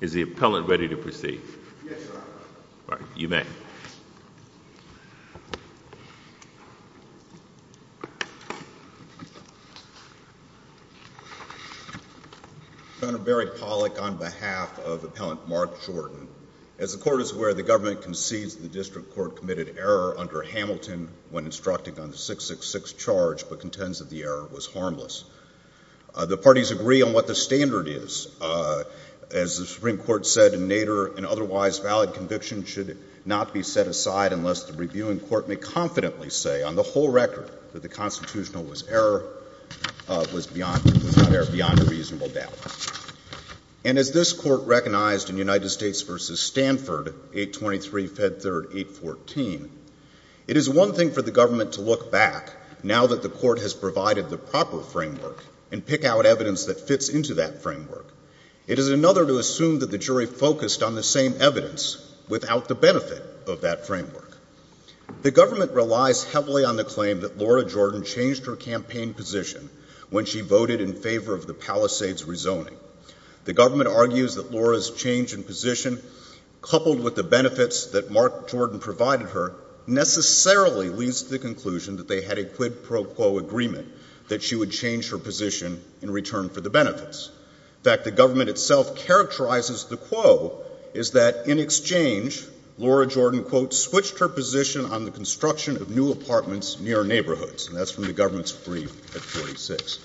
Is the appellant ready to proceed? Yes, your honor. All right, you may. Senator Barry Pollack on behalf of appellant Mark Jordan. As the court is aware, the government concedes the district court committed error under Hamilton when instructing on the 666 charge, but contends that the error was beyond reasonable doubt. And as the Supreme Court said in Nader, an otherwise valid conviction should not be set aside unless the reviewing court may confidently say on the whole record that the constitutional was error, was beyond, was not error, beyond a reasonable doubt. And as this court recognized in United States v. Stanford, 823, Fed Third, 814, it is one thing for the government to look back now that the court has provided the proper framework and pick out evidence that fits into that framework. It is another to assume that the jury focused on the same evidence without the benefit of that framework. The government relies heavily on the claim that Laura Jordan changed her campaign position when she voted in favor of the Palisades rezoning. The government argues that Laura's change in position, coupled with the benefits that Mark Jordan provided her, necessarily leads to the conclusion that they had a quid pro quo agreement that she would change her position in return for the benefits. In fact, the government itself characterizes the quo is that in exchange, Laura Jordan, quote, switched her position on the construction of new apartments near neighborhoods. And that's from the government's brief at 46.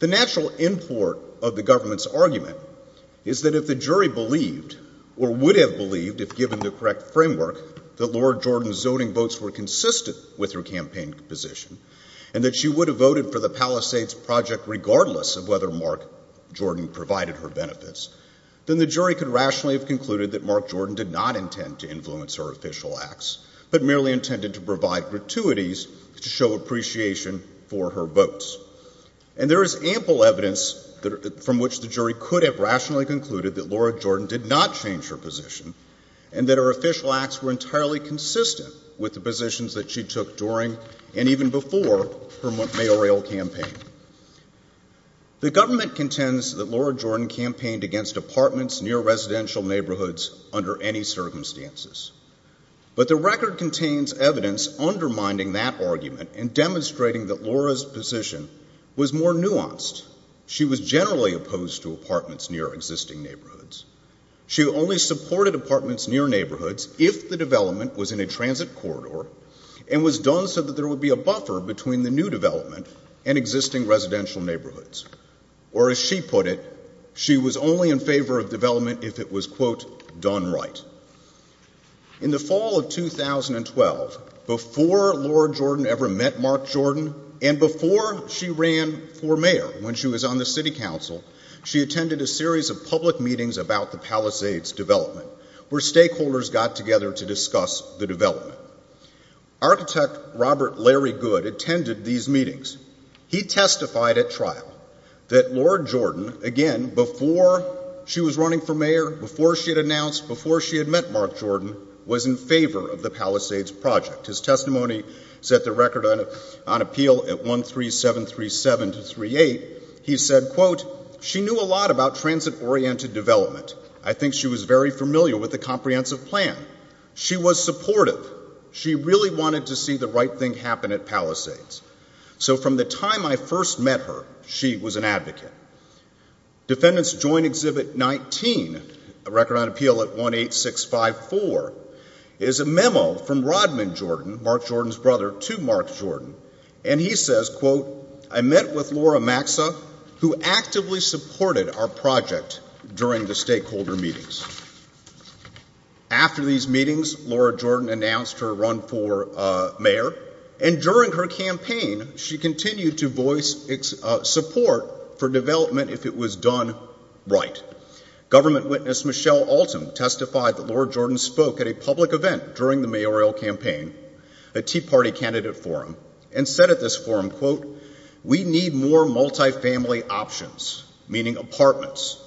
The natural import of the government's argument is that if the jury believed or would have believed, if given the correct framework, that Laura Jordan's zoning votes were consistent with her campaign position, and that she would provide her benefits, then the jury could rationally have concluded that Mark Jordan did not intend to influence her official acts, but merely intended to provide gratuities to show appreciation for her votes. And there is ample evidence from which the jury could have rationally concluded that Laura Jordan did not change her position, and that her official acts were entirely consistent with the positions that she took during and even before her mayoral campaign. The government contends that Laura Jordan campaigned against apartments near residential neighborhoods under any circumstances. But the record contains evidence undermining that argument and demonstrating that Laura's position was more nuanced. She was generally opposed to apartments near existing neighborhoods. She only supported apartments near neighborhoods if the development was in a transit corridor and was done so that there would be a buffer between the new development and existing residential neighborhoods. Or as she put it, she was only in favor of development if it was quote, done right. In the fall of 2012, before Laura Jordan ever met Mark Jordan, and before she ran for mayor when she was on the city council, she attended a series of public meetings about the Palisades development, where stakeholders got together to discuss the development. Architect Robert Larry Good attended these meetings. He testified at trial that Laura Jordan, again, before she was running for mayor, before she had announced, before she had met Mark Jordan, was in favor of the Palisades project. His testimony set the record on appeal at 13737-38. He said, quote, she knew a lot about transit-oriented development. I think she was very familiar with the comprehensive plan. She was supportive. She really wanted to see the right thing happen at Palisades. So from the time I first met her, she was an advocate. Defendants Joint Exhibit 19, a record on appeal at 18654, is a memo from Rodman Jordan, Mark Jordan's brother, to Mark Jordan. And he says, quote, I met with Laura Maxa, who actively supported our project during the stakeholder meetings. After these meetings, Laura Jordan announced her run for mayor. And during her campaign, she continued to voice support for development if it was done right. Government witness Michelle Alton testified that Laura Jordan spoke at a public event during the mayoral campaign, a Tea Party candidate forum, and said at this forum, quote, we need more multifamily options, meaning apartments.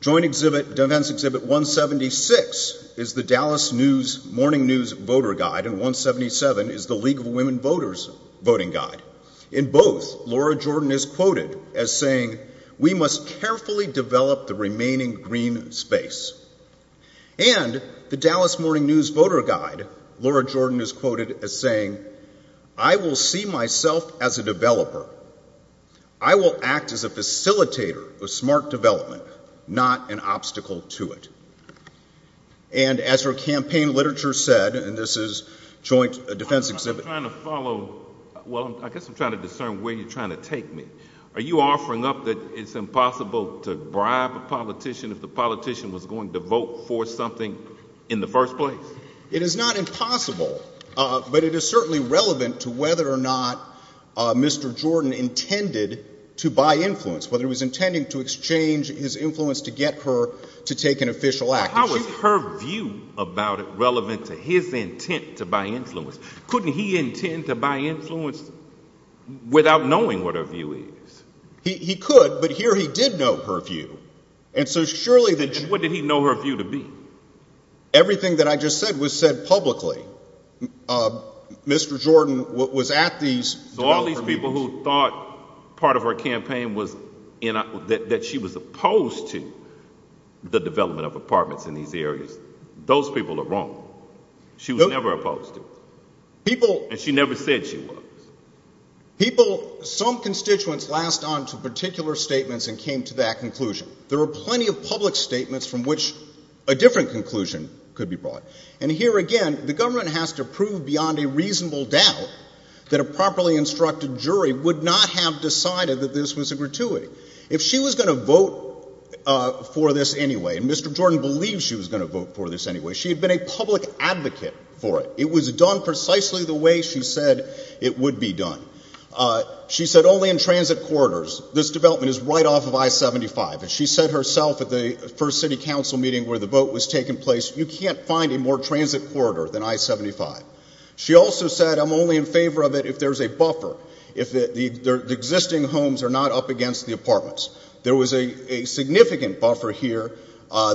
Joint Exhibit, Defendants Exhibit 176 is the Dallas Morning News Voter Guide, and 177 is the League of Women Voters Voting Guide. In both, Laura Jordan is quoted as saying, we must carefully develop the remaining green space. And the Dallas Morning News Voter Guide, Laura Jordan is quoted as saying, I will see myself as a developer. I will act as a facilitator of smart development, not an obstacle to it. And as her campaign literature said, and this is Joint Defense Exhibit I'm trying to follow, well, I guess I'm trying to discern where you're trying to take me. Are you offering up that it's impossible to bribe a politician if the politician was going to vote for something in the first place? It is not impossible, but it is certainly relevant to whether or not Mr. Jordan intended to buy influence, whether he was intending to exchange his influence to get her to take an official action. How is her view about it relevant to his intent to buy influence? Couldn't he intend to buy influence without knowing what her view is? He could, but here he did know her view. And so surely... And what did he know her view to be? Everything that I just said was said publicly. Mr. Jordan was at these... So all these people who thought part of her campaign was that she was opposed to the development of apartments in these areas, those people are wrong. She was never opposed to it. And she never said she was. Some constituents latched onto particular statements and came to that conclusion. There were plenty of public statements from which a different conclusion could be brought. And here again, the government has to prove beyond a reasonable doubt that a properly instructed jury would not have decided that this was a gratuity. If she was going to vote for this anyway, and Mr. Jordan believed she was going to vote for this anyway, she had been a public advocate for it. It was done precisely the way she said it would be done. She said only in transit corridors. This development is right off of I-75. And she said herself at the first City Council meeting where the vote was taking place, you can't find a more transit corridor than I-75. She also said, I'm only in favor of it if there's a buffer. If the existing homes are not up against the apartments. There was a significant buffer here.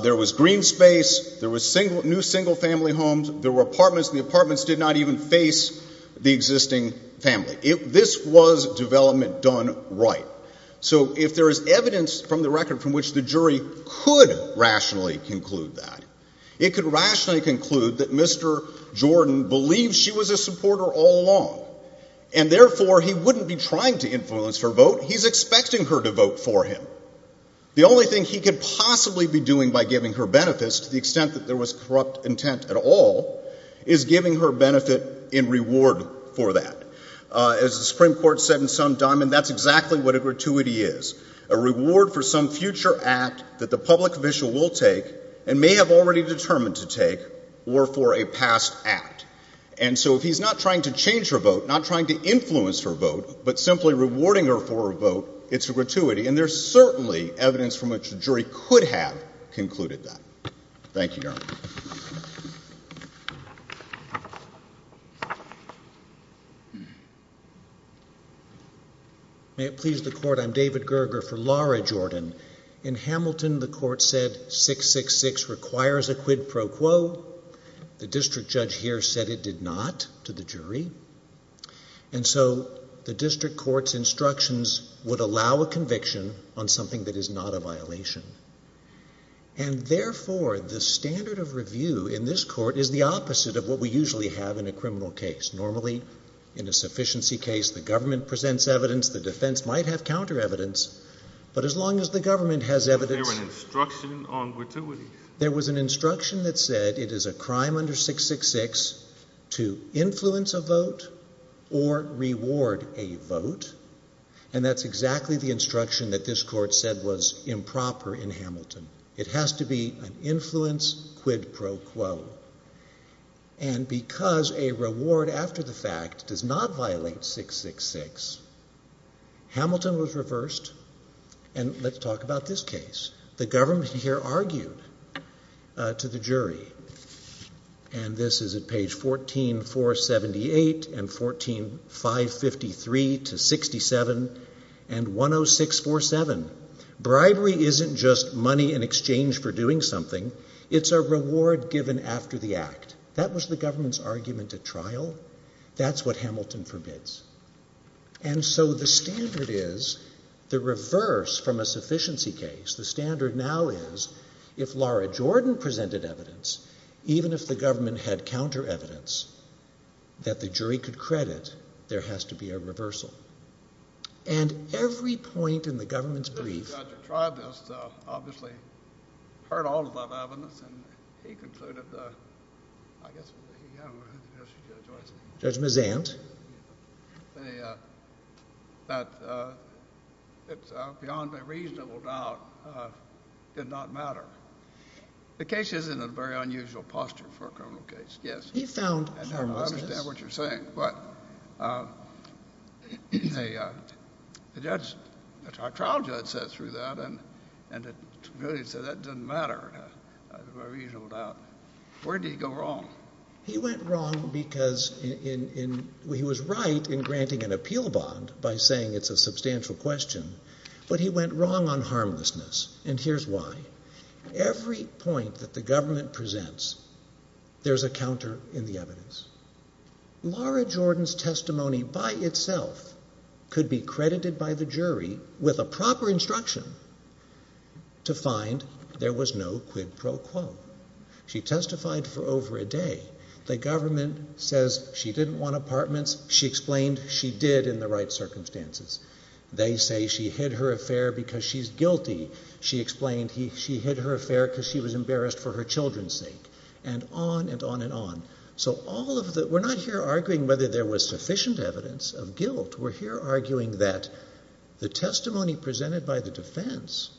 There was green space. There was new single-family homes. There were apartments, and the apartments did not even face the existing family. This was development done right. So if there is evidence from the record from which the jury could rationally conclude that, it could rationally conclude that Mr. Jordan believed she was a supporter all along, and therefore he wouldn't be trying to influence her vote. He's expecting her to vote for him. The only thing he could possibly be doing by giving her benefits, to the extent that there was corrupt intent at all, is giving her benefit in reward for that. As the Supreme Court said in some diamond, that's exactly what a gratuity is. A reward for some future act that the public official will take and may have already determined to take, or for a past act. And so if he's not trying to change her vote, not trying to influence her vote, but simply rewarding her for her vote, it's a gratuity. And there's certainly evidence from which the jury could have concluded that. Thank you, Your Honor. May it please the Court, I'm David Gerger for Laura Jordan. In Hamilton, the Court said 666 requires a quid pro quo. The district judge here said it did not, to the jury. And so the district court's instructions would allow a conviction on something that is not a violation. And the kind of review in this Court is the opposite of what we usually have in a criminal case. Normally, in a sufficiency case, the government presents evidence, the defense might have counter evidence, but as long as the government has evidence there was an instruction that said it is a crime under 666 to influence a vote or reward a vote, and that's exactly the instruction that this Court said was improper in Hamilton. It has to be an influence quid pro quo. And because a reward after the fact does not violate 666, Hamilton was reversed and let's talk about this case. The government here argued to the jury, and this is at page 14478 and 14553 to 67 and 10647. Bribery isn't just money in exchange for doing something, it's a reward given after the act. That was the government's argument at trial. That's what Hamilton forbids. And so the standard is the reverse from a sufficiency case. The standard now is if Laura Jordan presented evidence even if the government had counter evidence that the jury could credit, there has to be a reversal. And every point in the government's brief obviously heard all of that evidence and he concluded, I guess, Judge Mazant, that it's beyond a reasonable doubt did not matter. The case is in a very unusual posture for a criminal case, yes. And I don't understand what you're saying, but the judge, our trial judge sat through that and really said that doesn't matter for a reasonable doubt. Where did he go wrong? He went wrong because he was right in granting an appeal bond by saying it's a substantial question, but he went wrong on harmlessness, and here's why. Every point that the government presents, there's a counter in the evidence. Laura Jordan's testimony by itself could be credited by the jury with a proper instruction to find there was no quid pro quo. She testified for over a day. The government says she didn't want apartments. She explained she did in the right circumstances. They say she hid her affair because she's guilty. She explained she hid her affair because she was embarrassed for her children's sake, and on and on. We're not here arguing whether there was sufficient evidence of guilt. We're here arguing that the testimony presented by the defense,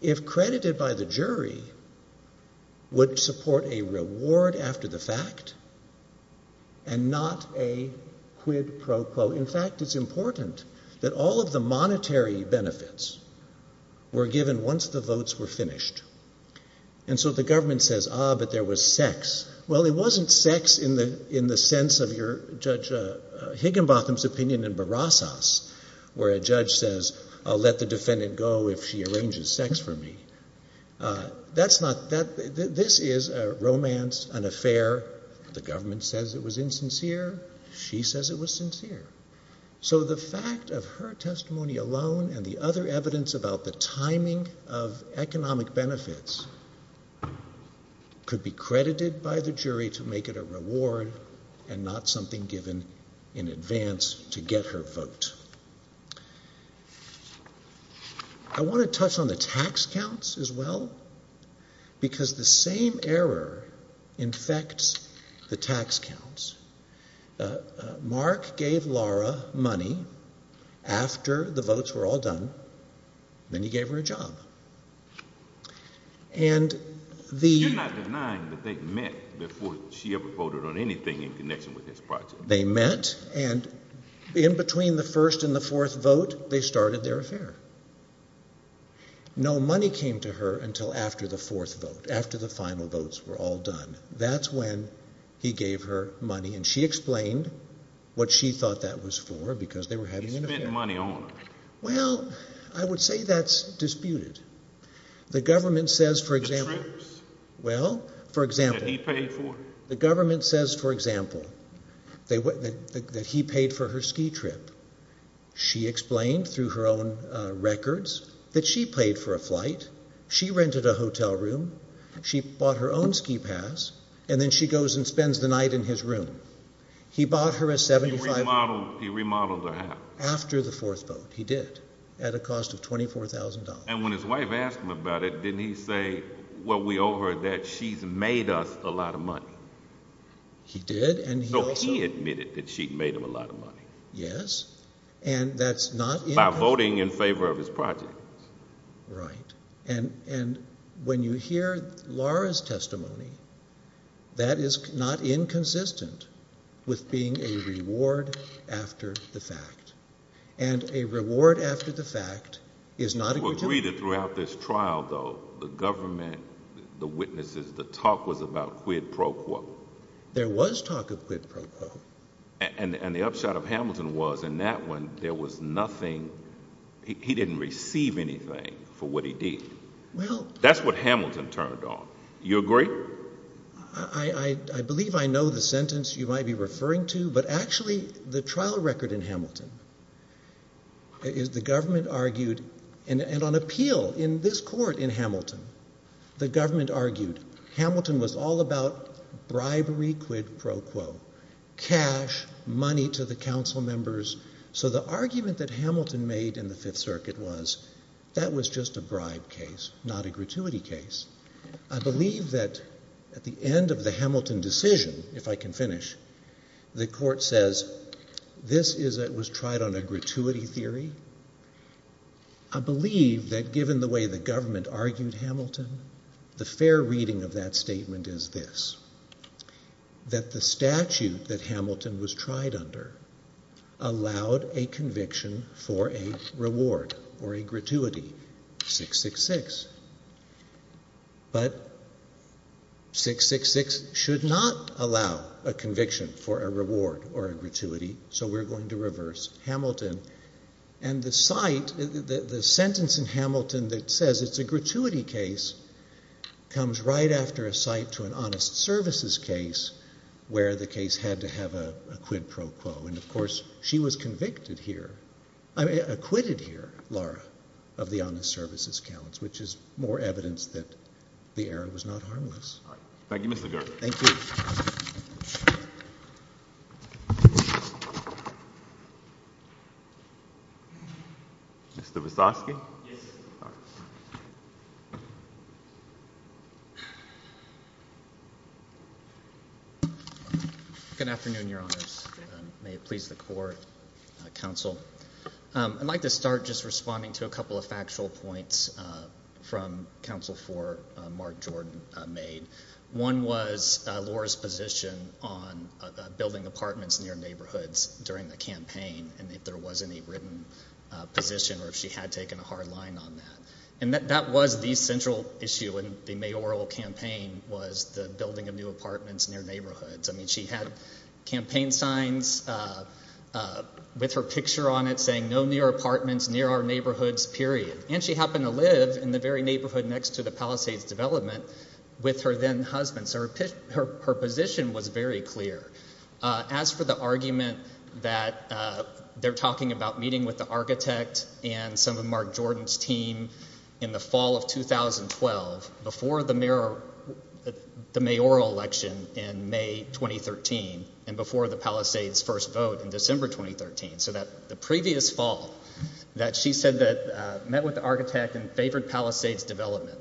if credited by the jury, would support a reward after the fact and not a quid pro quo. In fact, it's important that all of the monetary benefits were given once the votes were finished. And so the government says ah, but there was sex. Well, it wasn't sex in the sense of Judge Higginbotham's opinion in Barassas where a judge says I'll let the defendant go if she arranges sex for me. This is a romance, an affair. The government says it was insincere. She says it was sincere. So the fact of her testimony alone and the other evidence about the timing of economic benefits could be credited by the jury to make it a reward and not something given in advance to get her vote. I want to touch on the tax counts as well because the same error infects the tax counts. Mark gave Laura money You're not denying that they met before she ever voted on anything in connection with this project. They met and in between the first and the fourth vote they started their affair. No money came to her until after the fourth vote, after the final votes were all done. That's when he gave her money and she explained what she thought that was for because they were having an affair. He spent money on her. Well, I would say that's disputed. The government says for example that he paid for her ski trip. She explained through her own records that she paid for a flight, she rented a hotel room, she bought her own ski pass, and then she goes and spends the night in his room. He remodeled her house. After the fourth vote, he did, at a cost of $24,000. And when his wife asked him about it, didn't he say, well we owe her that she's made us a lot of money. He did. So he admitted that she made him a lot of money. Yes. By voting in favor of his project. Right. And when you hear Laura's testimony that is not inconsistent with being a fact. And a reward after the fact is not a gratuity. Throughout this trial though, the government, the witnesses, the talk was about quid pro quo. There was talk of quid pro quo. And the upshot of Hamilton was in that one, there was nothing, he didn't receive anything for what he did. That's what Hamilton turned on. You agree? I believe I know the sentence you might be referring to, but actually the trial record in Hamilton, the government argued, and on appeal in this court in Hamilton, the government argued, Hamilton was all about bribery quid pro quo. Cash, money to the council members. So the argument that Hamilton made in the Fifth Circuit was that was just a bribe case, not a gratuity case. I believe that given the way the government argued Hamilton, the fair reading of that statement is this. That the statute that Hamilton was tried under allowed a conviction for a reward or a gratuity. 666. But 666 should not allow a conviction for a reward or a gratuity. So we're going to reverse Hamilton. And the sentence in Hamilton that says it's a gratuity case comes right after a cite to an honest services case where the case had to have a quid pro quo. And of course, she was acquitted here, Laura, of the honest services counts, which is more evidence that the error was not harmless. Thank you, Mr. Girt. Thank you. Mr. Wisocki. Good afternoon, Your Honors. May it please the Court, Council. I'd like to start just responding to a couple of factual points from Council for Mark Jordan made. One was Laura's position on building apartments near neighborhoods during the campaign and if there was any written position or if she had taken a hard line on that. And that was the central issue in the mayoral campaign was the building of new apartments near neighborhoods. I mean, she had campaign signs with her picture on it saying no new apartments near our neighborhoods, period. And she happened to live in the very neighborhood next to the Palisades development with her then husband, so her position was very clear. As for the argument that they're talking about meeting with the architect and some of Mark Jordan's team in the fall of 2012 before the mayoral election in May 2013 and before the Palisades first vote in December 2013, so that the previous fall that she said that met with the architect and favored Palisades development.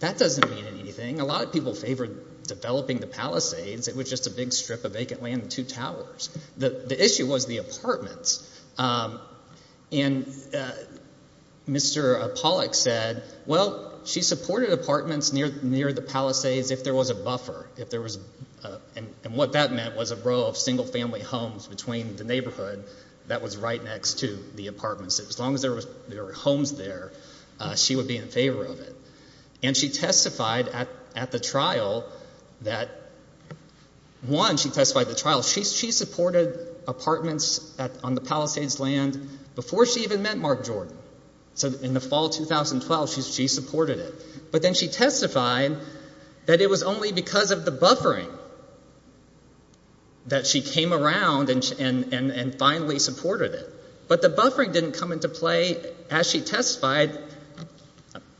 That doesn't mean anything. A lot of people favored developing the Palisades. It was just a big strip of vacant land and two towers. The issue was the apartments. And Mr. Pollack said, well, she supported apartments near the Palisades if there was a buffer. And what that meant was a row of single family homes between the neighborhood that was right next to the homes there, she would be in favor of it. And she testified at the trial that, one, she testified at the trial. She supported apartments on the Palisades land before she even met Mark Jordan. So in the fall of 2012 she supported it. But then she testified that it was only because of the buffering that she came around and finally supported it. But the buffering didn't come into play. As she testified,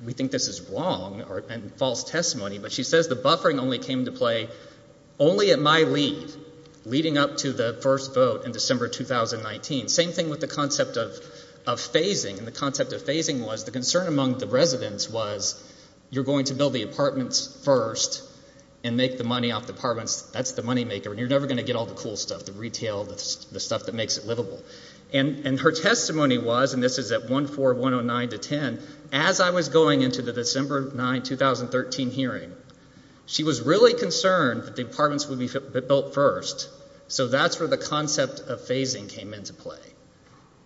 we think this is wrong and false testimony, but she says the buffering only came into play only at my lead, leading up to the first vote in December 2019. Same thing with the concept of phasing. And the concept of phasing was the concern among the residents was you're going to build the apartments first and make the money off the apartments. That's the money maker. And you're never going to get all the cool stuff, the retail, the stuff that makes it happen. Her testimony was, and this is at 1-4-109-10, as I was going into the December 9, 2013 hearing, she was really concerned that the apartments would be built first. So that's where the concept of phasing came into play.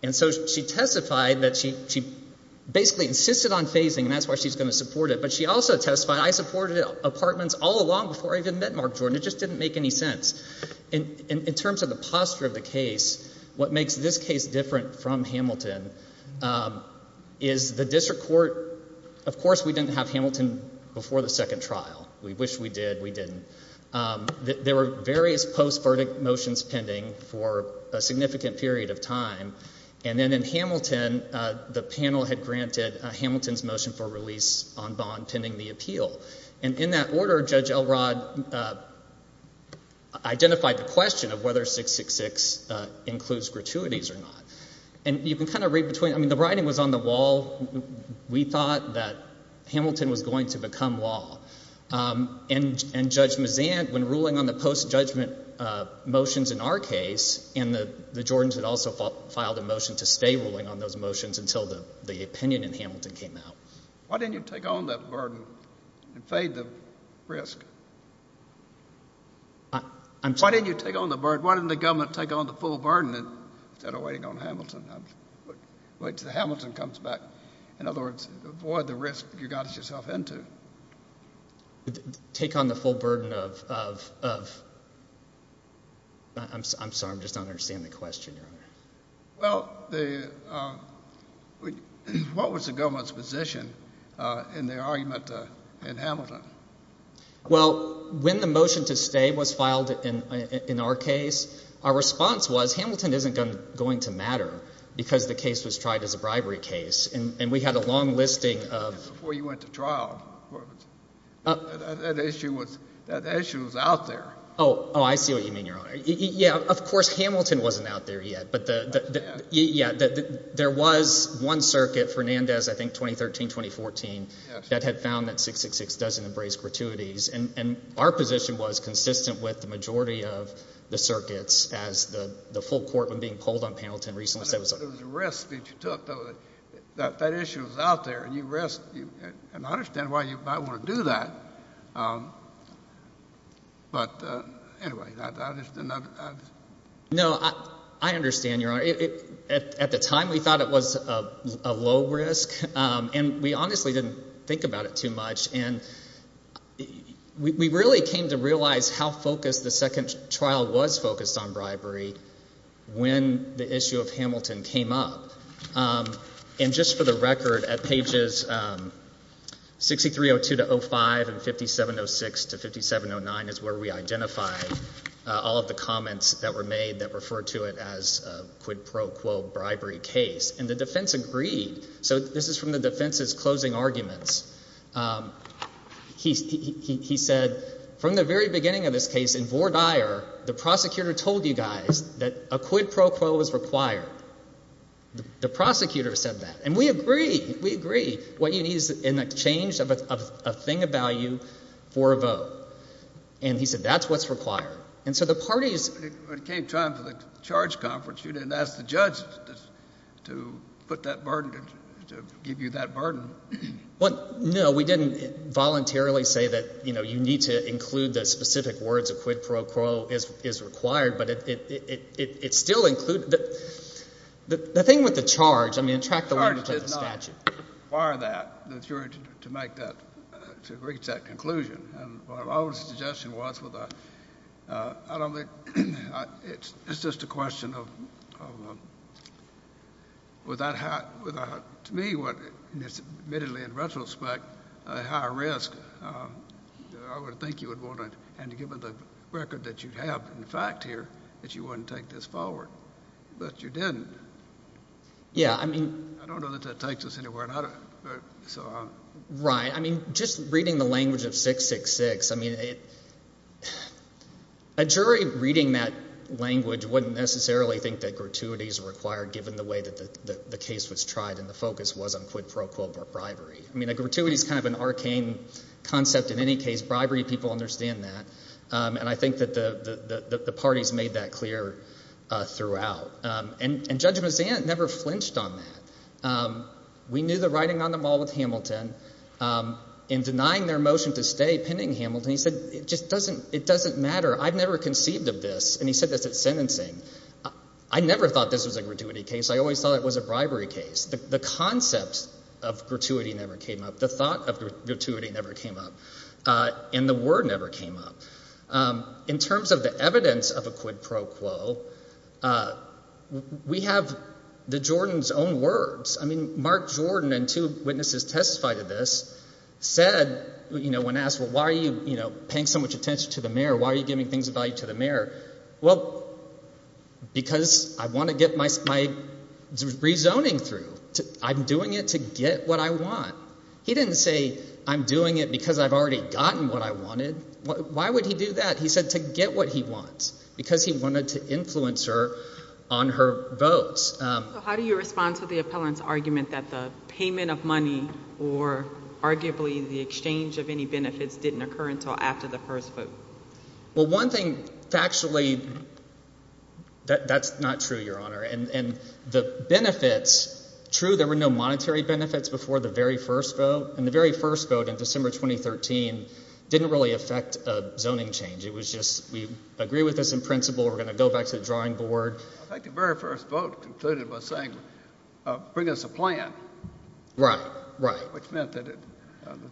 And so she testified that she basically insisted on phasing and that's why she's going to support it. But she also testified, I supported apartments all along before I even met Mark Jordan. It just didn't make any sense. In terms of the posture of the case, what makes this case different from Hamilton is the district court, of course we didn't have Hamilton before the second trial. We wish we did. We didn't. There were various post-verdict motions pending for a significant period of time. And then in Hamilton, the panel had granted Hamilton's motion for release on bond pending the appeal. And in that order, Judge Elrod identified the question of whether 666 includes gratuities or not. The writing was on the wall. We thought that Hamilton was going to become law. And Judge Mazant, when ruling on the post-judgment motions in our case and the Jordans had also filed a motion to stay ruling on those motions until the opinion in Hamilton came out. Why didn't you take on that burden and fade the risk? Why didn't you take on the burden? Why didn't the government take on the full burden instead of waiting on Hamilton? Wait until Hamilton comes back. In other words, avoid the risk you got yourself into. Take on the full burden of I'm sorry, I'm just not understanding the question, Your Honor. Well, what was the government's position in their argument in Hamilton? Well, when the motion to stay was filed in our case, our response was Hamilton isn't going to matter because the case was tried as a bribery case. And we had a long listing of... Before you went to trial. That issue was out there. Oh, I see what you mean, Your Honor. Of course, Hamilton wasn't out there yet. There was one circuit, Fernandez, I think 2013-2014, that had found that 666 doesn't embrace gratuities. And our position was consistent with the majority of the circuits as the full court when being pulled on Hamilton recently said... It was a risk that you took. That issue was out there. And I understand why you might want to do that. But anyway... No, I understand, Your Honor. At the time, we thought it was a low risk. And we honestly didn't think about it too much. And we really came to realize how focused the second trial was focused on bribery when the issue of Hamilton came up. And just for the record, at pages 6302-05 and 5706-5709 is where we identified all of the comments that were made that referred to it as a quid pro quo bribery case. And the defense agreed. So this is from the defense's closing arguments. He said, from the very beginning of this case, in Vore Dyer, the prosecutor told you guys that a quid pro quo is required. The prosecutor said that. And we agree. We agree. What you need is a change of a thing of value for a vote. And he said, that's what's required. And so the parties... When it came time for the charge conference, you didn't ask the judge to put that burden, to give you that burden. No, we didn't voluntarily say that you need to include the specific words a quid pro quo is required, but it still included... The thing with the charge, I mean, it tracked the language of the statute. The charge did not require that, the jury, to make that, to reach that conclusion. My only suggestion was with a quid pro quo, I don't think... It's just a question of without to me, admittedly in retrospect, a high risk. I would think you would want to... And given the record that you have in fact here, that you wouldn't take this forward. But you didn't. Yeah, I mean... I don't know that that takes us anywhere. Right. I mean, just reading the language of 666, I mean, a jury reading that language wouldn't necessarily think that gratuity is required given the way that the case was tried and the focus was on quid pro quo bribery. I mean, gratuity is kind of an arcane concept in any case. Bribery, people understand that. And I think that the parties made that clear throughout. And Judge Mazzant never flinched on that. We knew the writing on them all with Hamilton. In denying their motion to stay, pinning Hamilton, he said, it doesn't matter. I've never conceived of this. And he said this at sentencing. I never thought this was a gratuity case. I always thought it was a bribery case. The concept of gratuity never came up. The thought of gratuity never came up. And the word never came up. In terms of the evidence of a quid pro quo, we have the Jordan's own words. I mean, Mark Jordan and two witnesses testified to this said, you know, when asked, well, why are you paying so much attention to the mayor? Why are you giving things of value to the mayor? Well, because I want to get my rezoning through. I'm doing it to get what I want. He didn't say, I'm doing it because I've already gotten what I wanted. Why would he do that? He said to get what he wants. Because he wanted to influence her on her votes. So how do you respond to the appellant's argument that the payment of money or arguably the exchange of any benefits didn't occur until after the first vote? Well, one thing, factually, that's not true, Your Honor. And the benefits, true, there were no monetary benefits before the very first vote. And the very first vote in December 2013 didn't really affect a zoning change. It was just, we agree with this in principle. We're going to go back to the drawing board. I think the very first vote concluded by saying, bring us a plan. Right, right. Which meant that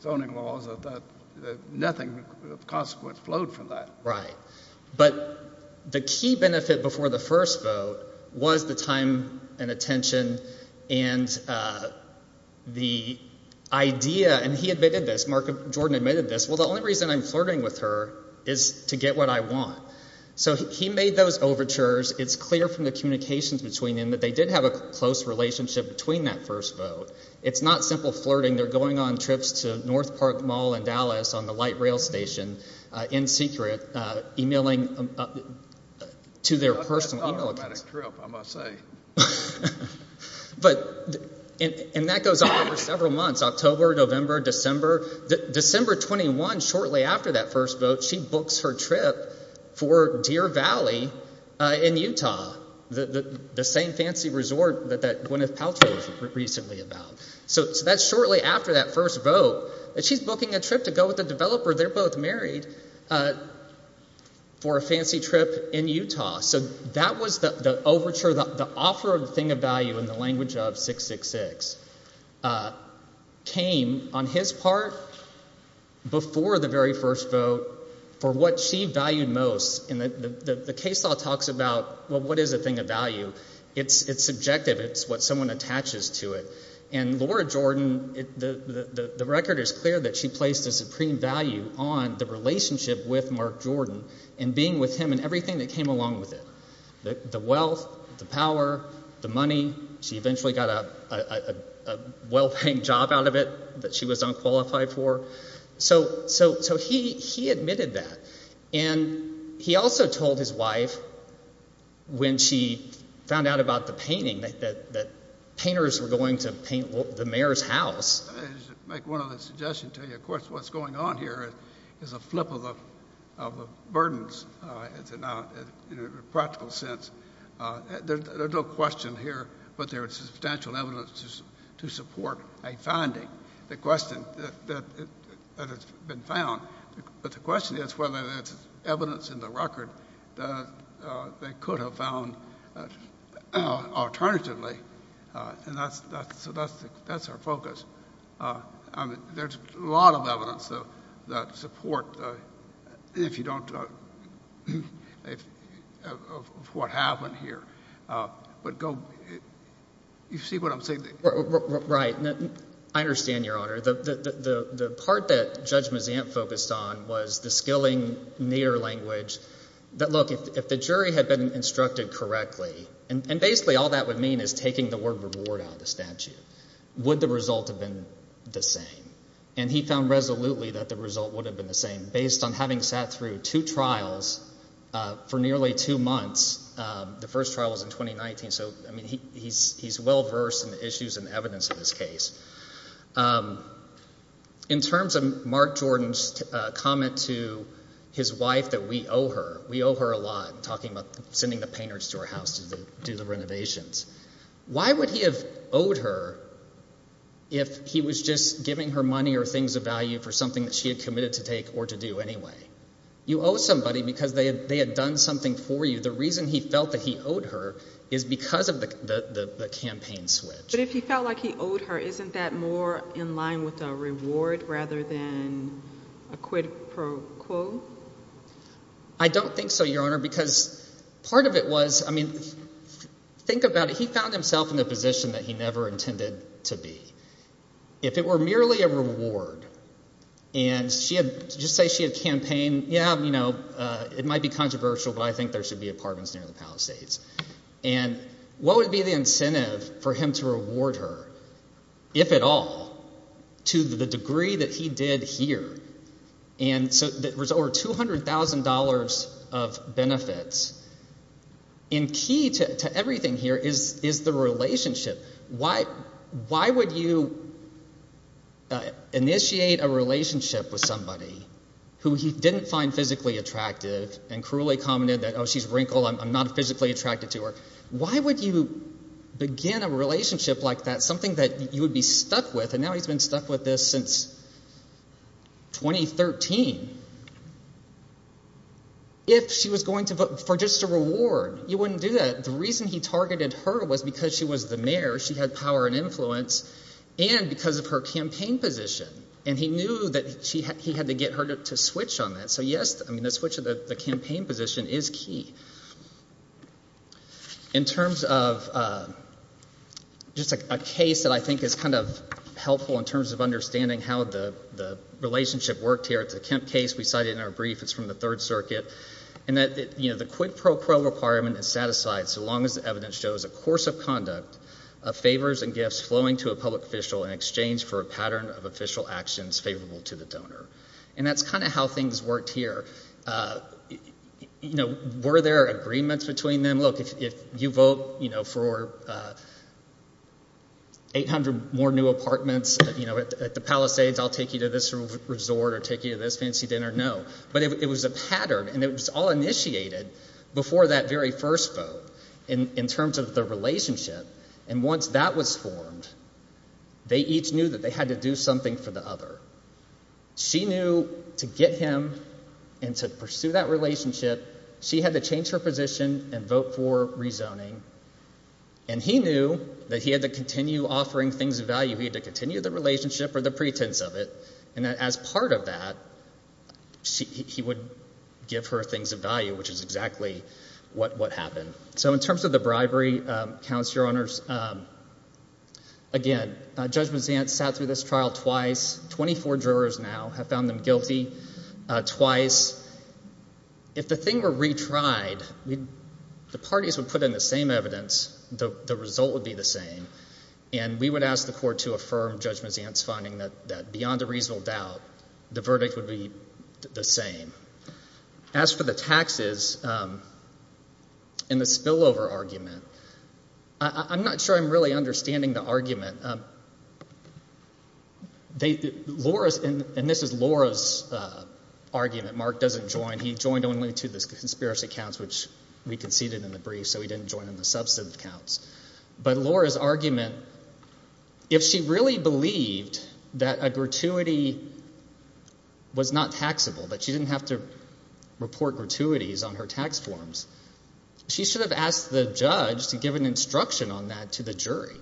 zoning laws nothing of consequence flowed from that. Right. But the key benefit before the first vote was the time and attention and the idea, and he admitted this, Mark Jordan admitted this, well, the only reason I'm flirting with her is to get what I want. So he made those overtures. It's clear from the communications between them that they did have a close relationship between that first vote. It's not simple flirting. They're going on trips to North Park Mall in Dallas on the light rail station in secret, emailing to their personal email accounts. Automatic trip, I must say. But, and that goes on for several months, October, November, December. December 21, shortly after that first vote, she books her trip for Deer Valley in Utah. The same fancy resort that Gwyneth Paltrow was recently about. So that's shortly after that first vote that she's booking a trip to go with a developer, they're both married, for a fancy trip in Utah. So that was the overture, the offer of the thing of value in the language of 666 came on his part before the very first vote for what she valued most. And the case law talks about, well, what is a thing of value? It's subjective. It's what someone attaches to it. And Laura Jordan, the record is clear that she placed a supreme value on the relationship with Mark Jordan and being with him and everything that came along with it. The wealth, the power, the money. She eventually got a well-paying job out of it that she was unqualified for. So he admitted that. And he also told his wife when she found out about the painting that painters were going to paint the mayor's house. I should make one other suggestion to you. Of course, what's going on here is a flip of the burdens in a practical sense. There's no question here, but there is substantial evidence to support a finding that has been found. But the question is whether there's evidence in the record that they could have found alternatively. And that's our focus. There's a lot of evidence that support what happened here. But you see what I'm saying? Right. I understand, Your Honor. The part that Judge Mazzant focused on was the skilling near language that, look, if the jury had been instructed correctly, and basically all that would mean is taking the word reward out of the statute, would the result have been the same? And he found resolutely that the result would have been the same. Based on having sat through two trials for nearly two months, the first trial was in 2019, so he's well versed in the issues and evidence of this case. In terms of Mark Jordan's comment to his wife that we owe her, we owe her a lot, talking about sending the painters to our house to do the renovations. Why would he have owed her if he was just giving her money or things of value for something that she had committed to take or to do anyway? You owe somebody because they had done something for you. The reason he felt that he owed her is because of the campaign switch. But if he felt like he owed her, isn't that more in line with a reward rather than a quid pro quo? I don't think so, Your Honor, because part of it was, I mean, think about it. He found himself in a position that he never intended to be. If it were merely a reward, and she had, just say she had campaigned, yeah, you know, it might be controversial, but I think there should be apartments near the Palisades. And what would be the incentive for him to reward her, if at all, to the degree that he did here? And so there was over $200,000 of benefits. And key to everything here is the relationship. Why would you initiate a relationship with someone who he didn't find physically attractive and cruelly commented that, oh, she's wrinkled, I'm not physically attracted to her? Why would you begin a relationship like that, something that you would be stuck with, and now he's been stuck with this since 2013, if she was going to vote for just a reward? You wouldn't do that. The reason he targeted her was because she was the mayor, she had power and influence, and because of her campaign position. And he knew that he had to get her to switch on that, so yes, the switch of the campaign position is key. In terms of just a case that I think is kind of helpful in terms of understanding how the relationship worked here, it's a Kemp case, we cite it in our brief, it's from the Third Circuit, in that the quid pro quo requirement is satisfied so long as the evidence shows a course of conduct of favors and gifts flowing to a public official in exchange for a pattern of official actions favorable to the donor. And that's kind of how things worked here. Were there agreements between them? Look, if you vote for 800 more new apartments at the Palisades, I'll take you to this resort or take you to this fancy dinner, no. But it was a pattern, and it was all initiated before that very first vote in terms of the relationship, and once that was formed, they each knew that they had to do something for the other. She knew to get him and to pursue that relationship, she had to change her position and vote for rezoning, and he knew that he had to continue offering things of value. He had to continue the relationship or the pretense of it, and as part of that, he would give her things of value, which is exactly what happened. So in terms of the bribery, counsel, your honors, again, Judge Mazzant sat through this trial twice. Twenty-four jurors now have found them guilty twice. If the thing were retried, the parties would put in the same evidence, the result would be the same, and we would ask the court to affirm Judge Mazzant's finding that beyond a reasonable doubt, the verdict would be the same. As for the taxes and the spillover argument, I'm not sure I'm really understanding the argument. And this is Laura's argument. Mark doesn't join. He joined only to the conspiracy counts, which we conceded in the brief, so he didn't join in the substantive counts. But Laura's argument, if she really believed that a gratuity was not taxable, that she didn't have to make her tax forms, she should have asked the judge to give an instruction on that to the jury.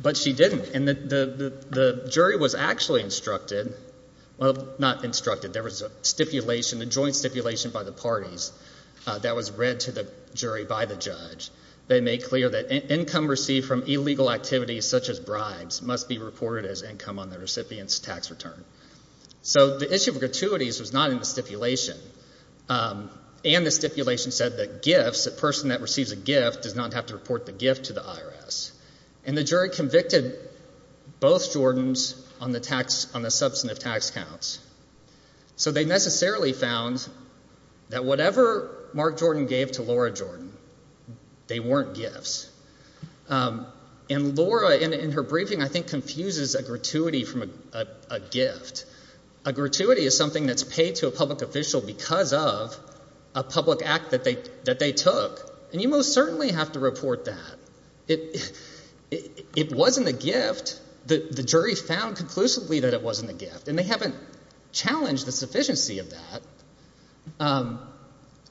But she didn't. And the jury was actually instructed, well, not instructed, there was a stipulation, a joint stipulation by the parties that was read to the jury by the judge. They made clear that income received from illegal activities such as bribes must be reported as income on the recipient's tax return. So the issue of gratuities was not in the stipulation. And the stipulation said that gifts, a person that receives a gift does not have to report the gift to the IRS. And the jury convicted both Jordans on the substantive tax counts. So they necessarily found that whatever Mark Jordan gave to Laura Jordan, they weren't gifts. And Laura A gratuity is something that's paid to a public official because of a public act that they took. And you most certainly have to report that. It wasn't a gift. The jury found conclusively that it wasn't a gift. And they haven't challenged the sufficiency of that.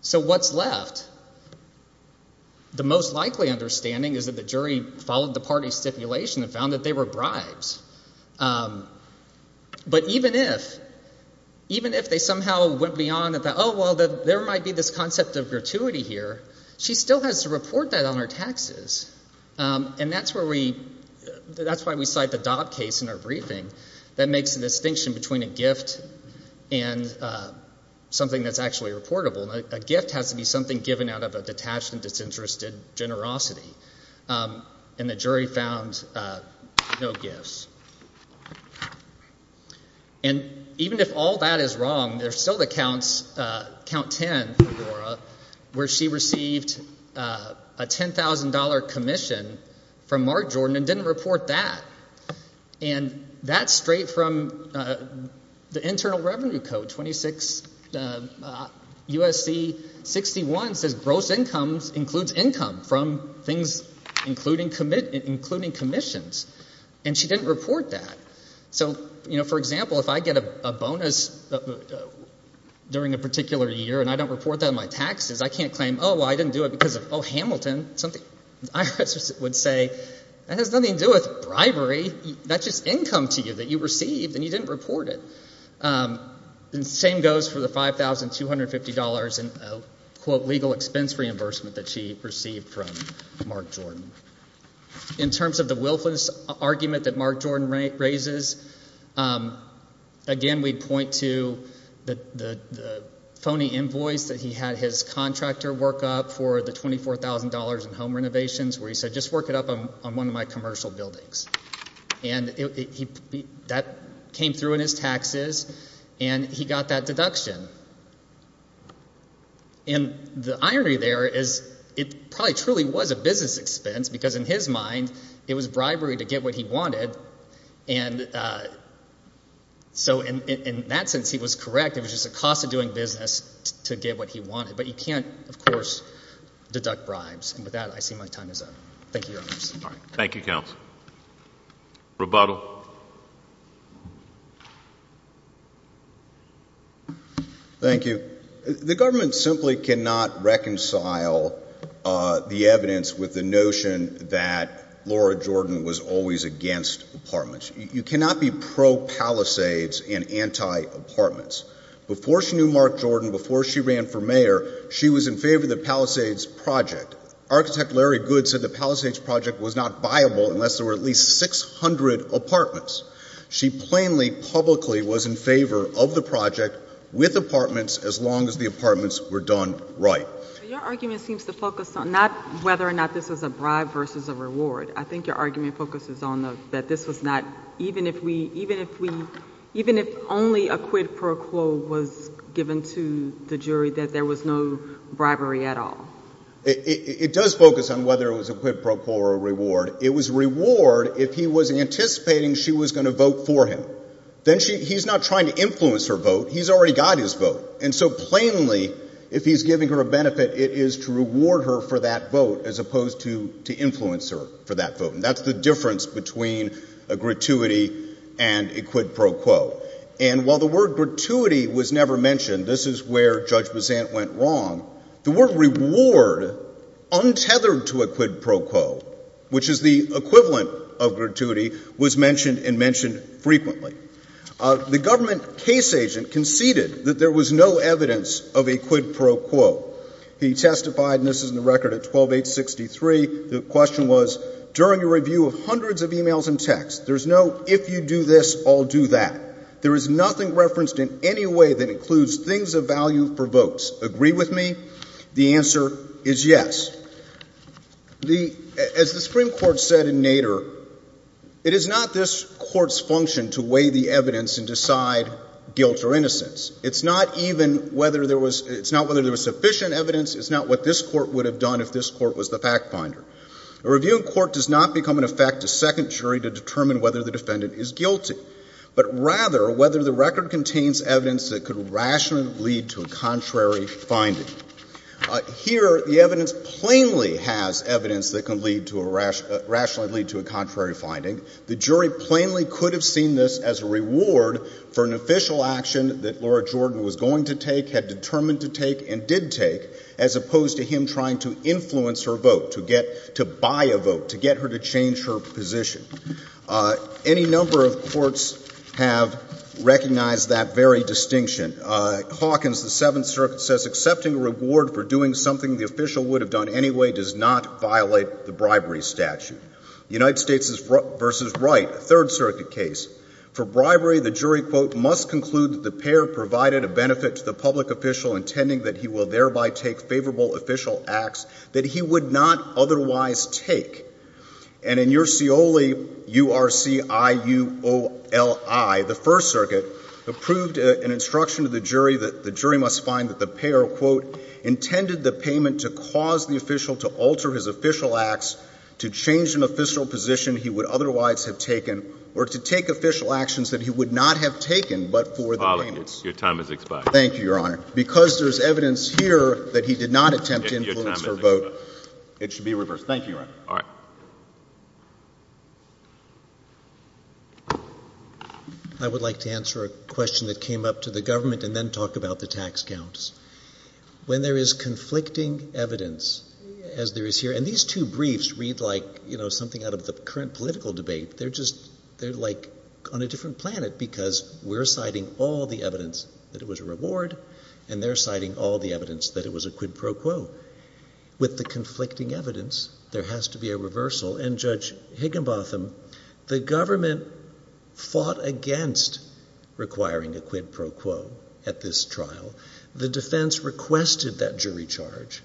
So what's left? The most likely understanding is that the jury followed the party's stipulation and found that they were bribes. But even if they somehow went beyond that, oh, well, there might be this concept of gratuity here, she still has to report that on her taxes. And that's why we cite the Dobb case in our briefing that makes a distinction between a gift and something that's actually reportable. A gift has to be something given out of a detached and disinterested generosity. And the jury found no gifts. And even if all that is wrong, there's still the count 10 for Laura, where she received a $10,000 commission from Mark Jordan and didn't report that. And that's straight from the Internal Revenue Code, 26 U.S.C. 61 says gross income includes income from things including commissions. And she didn't report that. So, you know, for example, if I get a bonus during a particular year and I don't report that on my taxes, I can't claim, oh, well, I didn't do it because of, oh, Hamilton. IRS would say that has nothing to do with bribery. That's just income to you that you received and you didn't report it. And the same goes for the $5,250 in, quote, legal expense reimbursement that she received. In terms of the willfulness argument that Mark Jordan raises, again, we'd point to the phony invoice that he had his contractor work up for the $24,000 in home renovations where he said, just work it up on one of my commercial buildings. And that came through in his taxes, and he got that deduction. And the irony there is it probably truly was a business expense because in his mind it was bribery to get what he wanted. And so in that sense he was correct. It was just the cost of doing business to get what he wanted. But you can't, of course, deduct bribes. And with that, I see my time is up. Thank you, Your Honors. Thank you, Counsel. Rebuttal. Thank you. The government simply cannot reconcile the evidence with the notion that Laura Jordan was always against apartments. You cannot be pro-Palisades and anti-apartments. Before she knew Mark Jordan, before she ran for mayor, she was in favor of the Palisades project. Architect Larry Good said the Palisades project was not viable unless there were at least 600 apartments. She plainly, publicly was in favor of the project with apartments as long as the apartments were done right. Your argument seems to focus on not whether or not this was a bribe versus a reward. I think your argument focuses on that this was not even if only a quid pro quo was given to the jury that there was no bribery at all. It does focus on whether it was a quid pro quo or a reward. It was reward if he was anticipating she was going to vote for him. Then he's not trying to influence her vote. He's already got his vote. Plainly, if he's giving her a benefit, it is to reward her for that vote as opposed to influence her for that vote. That's the difference between a gratuity and a quid pro quo. While the word gratuity was never mentioned, this is where Judge Bazant went wrong, the word reward untethered to a quid pro quo, which is the equivalent of gratuity, was mentioned and mentioned frequently. The government case agent conceded that there was no evidence of a quid pro quo. He testified, and this is in the record at 12-863, the question was, during a review of hundreds of emails and texts, there's no if you do this, I'll do that. There is nothing referenced in any way that includes things of value for votes. Agree with me? The answer is yes. As the Supreme Court said in Nader, it is not this Court's function to weigh the evidence for innocence. It's not even whether there was sufficient evidence. It's not what this Court would have done if this Court was the fact finder. A review in court does not become, in effect, a second jury to determine whether the defendant is guilty, but rather whether the record contains evidence that could rationally lead to a contrary finding. Here, the evidence plainly has evidence that can rationally lead to a contrary finding. The jury plainly could have seen this as a reward for an official action that Laura Jordan was going to take, had determined to take, and did take, as opposed to him trying to influence her vote, to buy a vote, to get her to change her position. Any number of courts have recognized that very distinction. Hawkins, the Seventh Circuit says, accepting a reward for doing something the official would have done anyway does not violate the bribery statute. United States v. Wright, Third Circuit case. For bribery, the jury, quote, must conclude that the payer provided a benefit to the public official, intending that he will thereby take favorable official acts that he would not otherwise take. And in your Scioli, U-R-C-I-U-O-L-I, the First Circuit approved an instruction to the jury that the jury must find that the payer, quote, intended the payment to cause the official to alter his official acts to change an official position he would otherwise have taken, or to take official actions that he would not have taken but for the payments. Your time has expired. Thank you, Your Honor. Because there's evidence here that he did not attempt to influence her vote, it should be reversed. Thank you, Your Honor. All right. I would like to answer a question that came up to the government and then talk about the tax counts. When there is conflicting evidence, as there is here, and these two have the current political debate, they're like on a different planet because we're citing all the evidence that it was a reward, and they're citing all the evidence that it was a quid pro quo. With the conflicting evidence, there has to be a reversal. And Judge Higginbotham, the government fought against requiring a quid pro quo at this trial. The defense requested defeated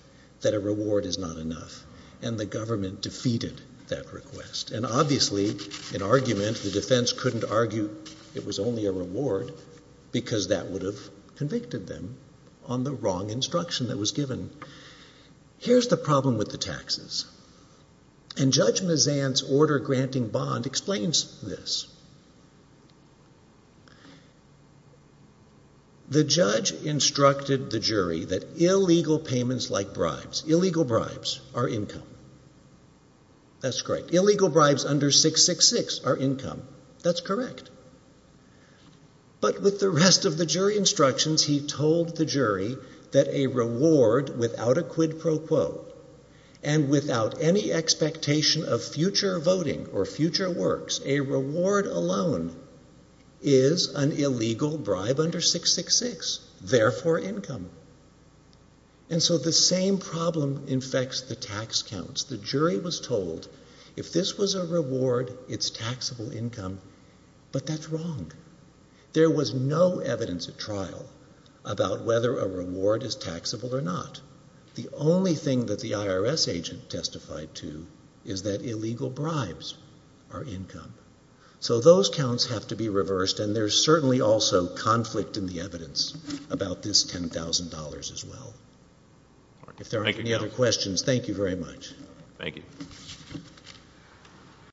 that request. And obviously, in argument, the defense couldn't argue it was only a reward because that would have convicted them on the wrong instruction that was given. Here's the problem with the taxes. And Judge Mazant's order granting bond explains this. The judge instructed the jury that illegal payments like bribes, illegal bribes, are income. That's correct. Illegal bribes under 666 are income. That's correct. But with the rest of the jury instructions, he told the jury that a reward without a quid pro quo and without any expectation of future voting or future works, a reward alone is an illegal bribe under 666, therefore income. And so the same problem infects the tax counts. The jury was told if this was a reward, it's taxable income, but that's wrong. There was no evidence at trial about whether a reward is taxable or not. The only thing that the IRS agent testified to is that illegal bribes are income. So those counts have to be reversed and there's certainly also conflict in the evidence about this $10,000 as well. If there aren't any other questions, thank you very much. Thank you.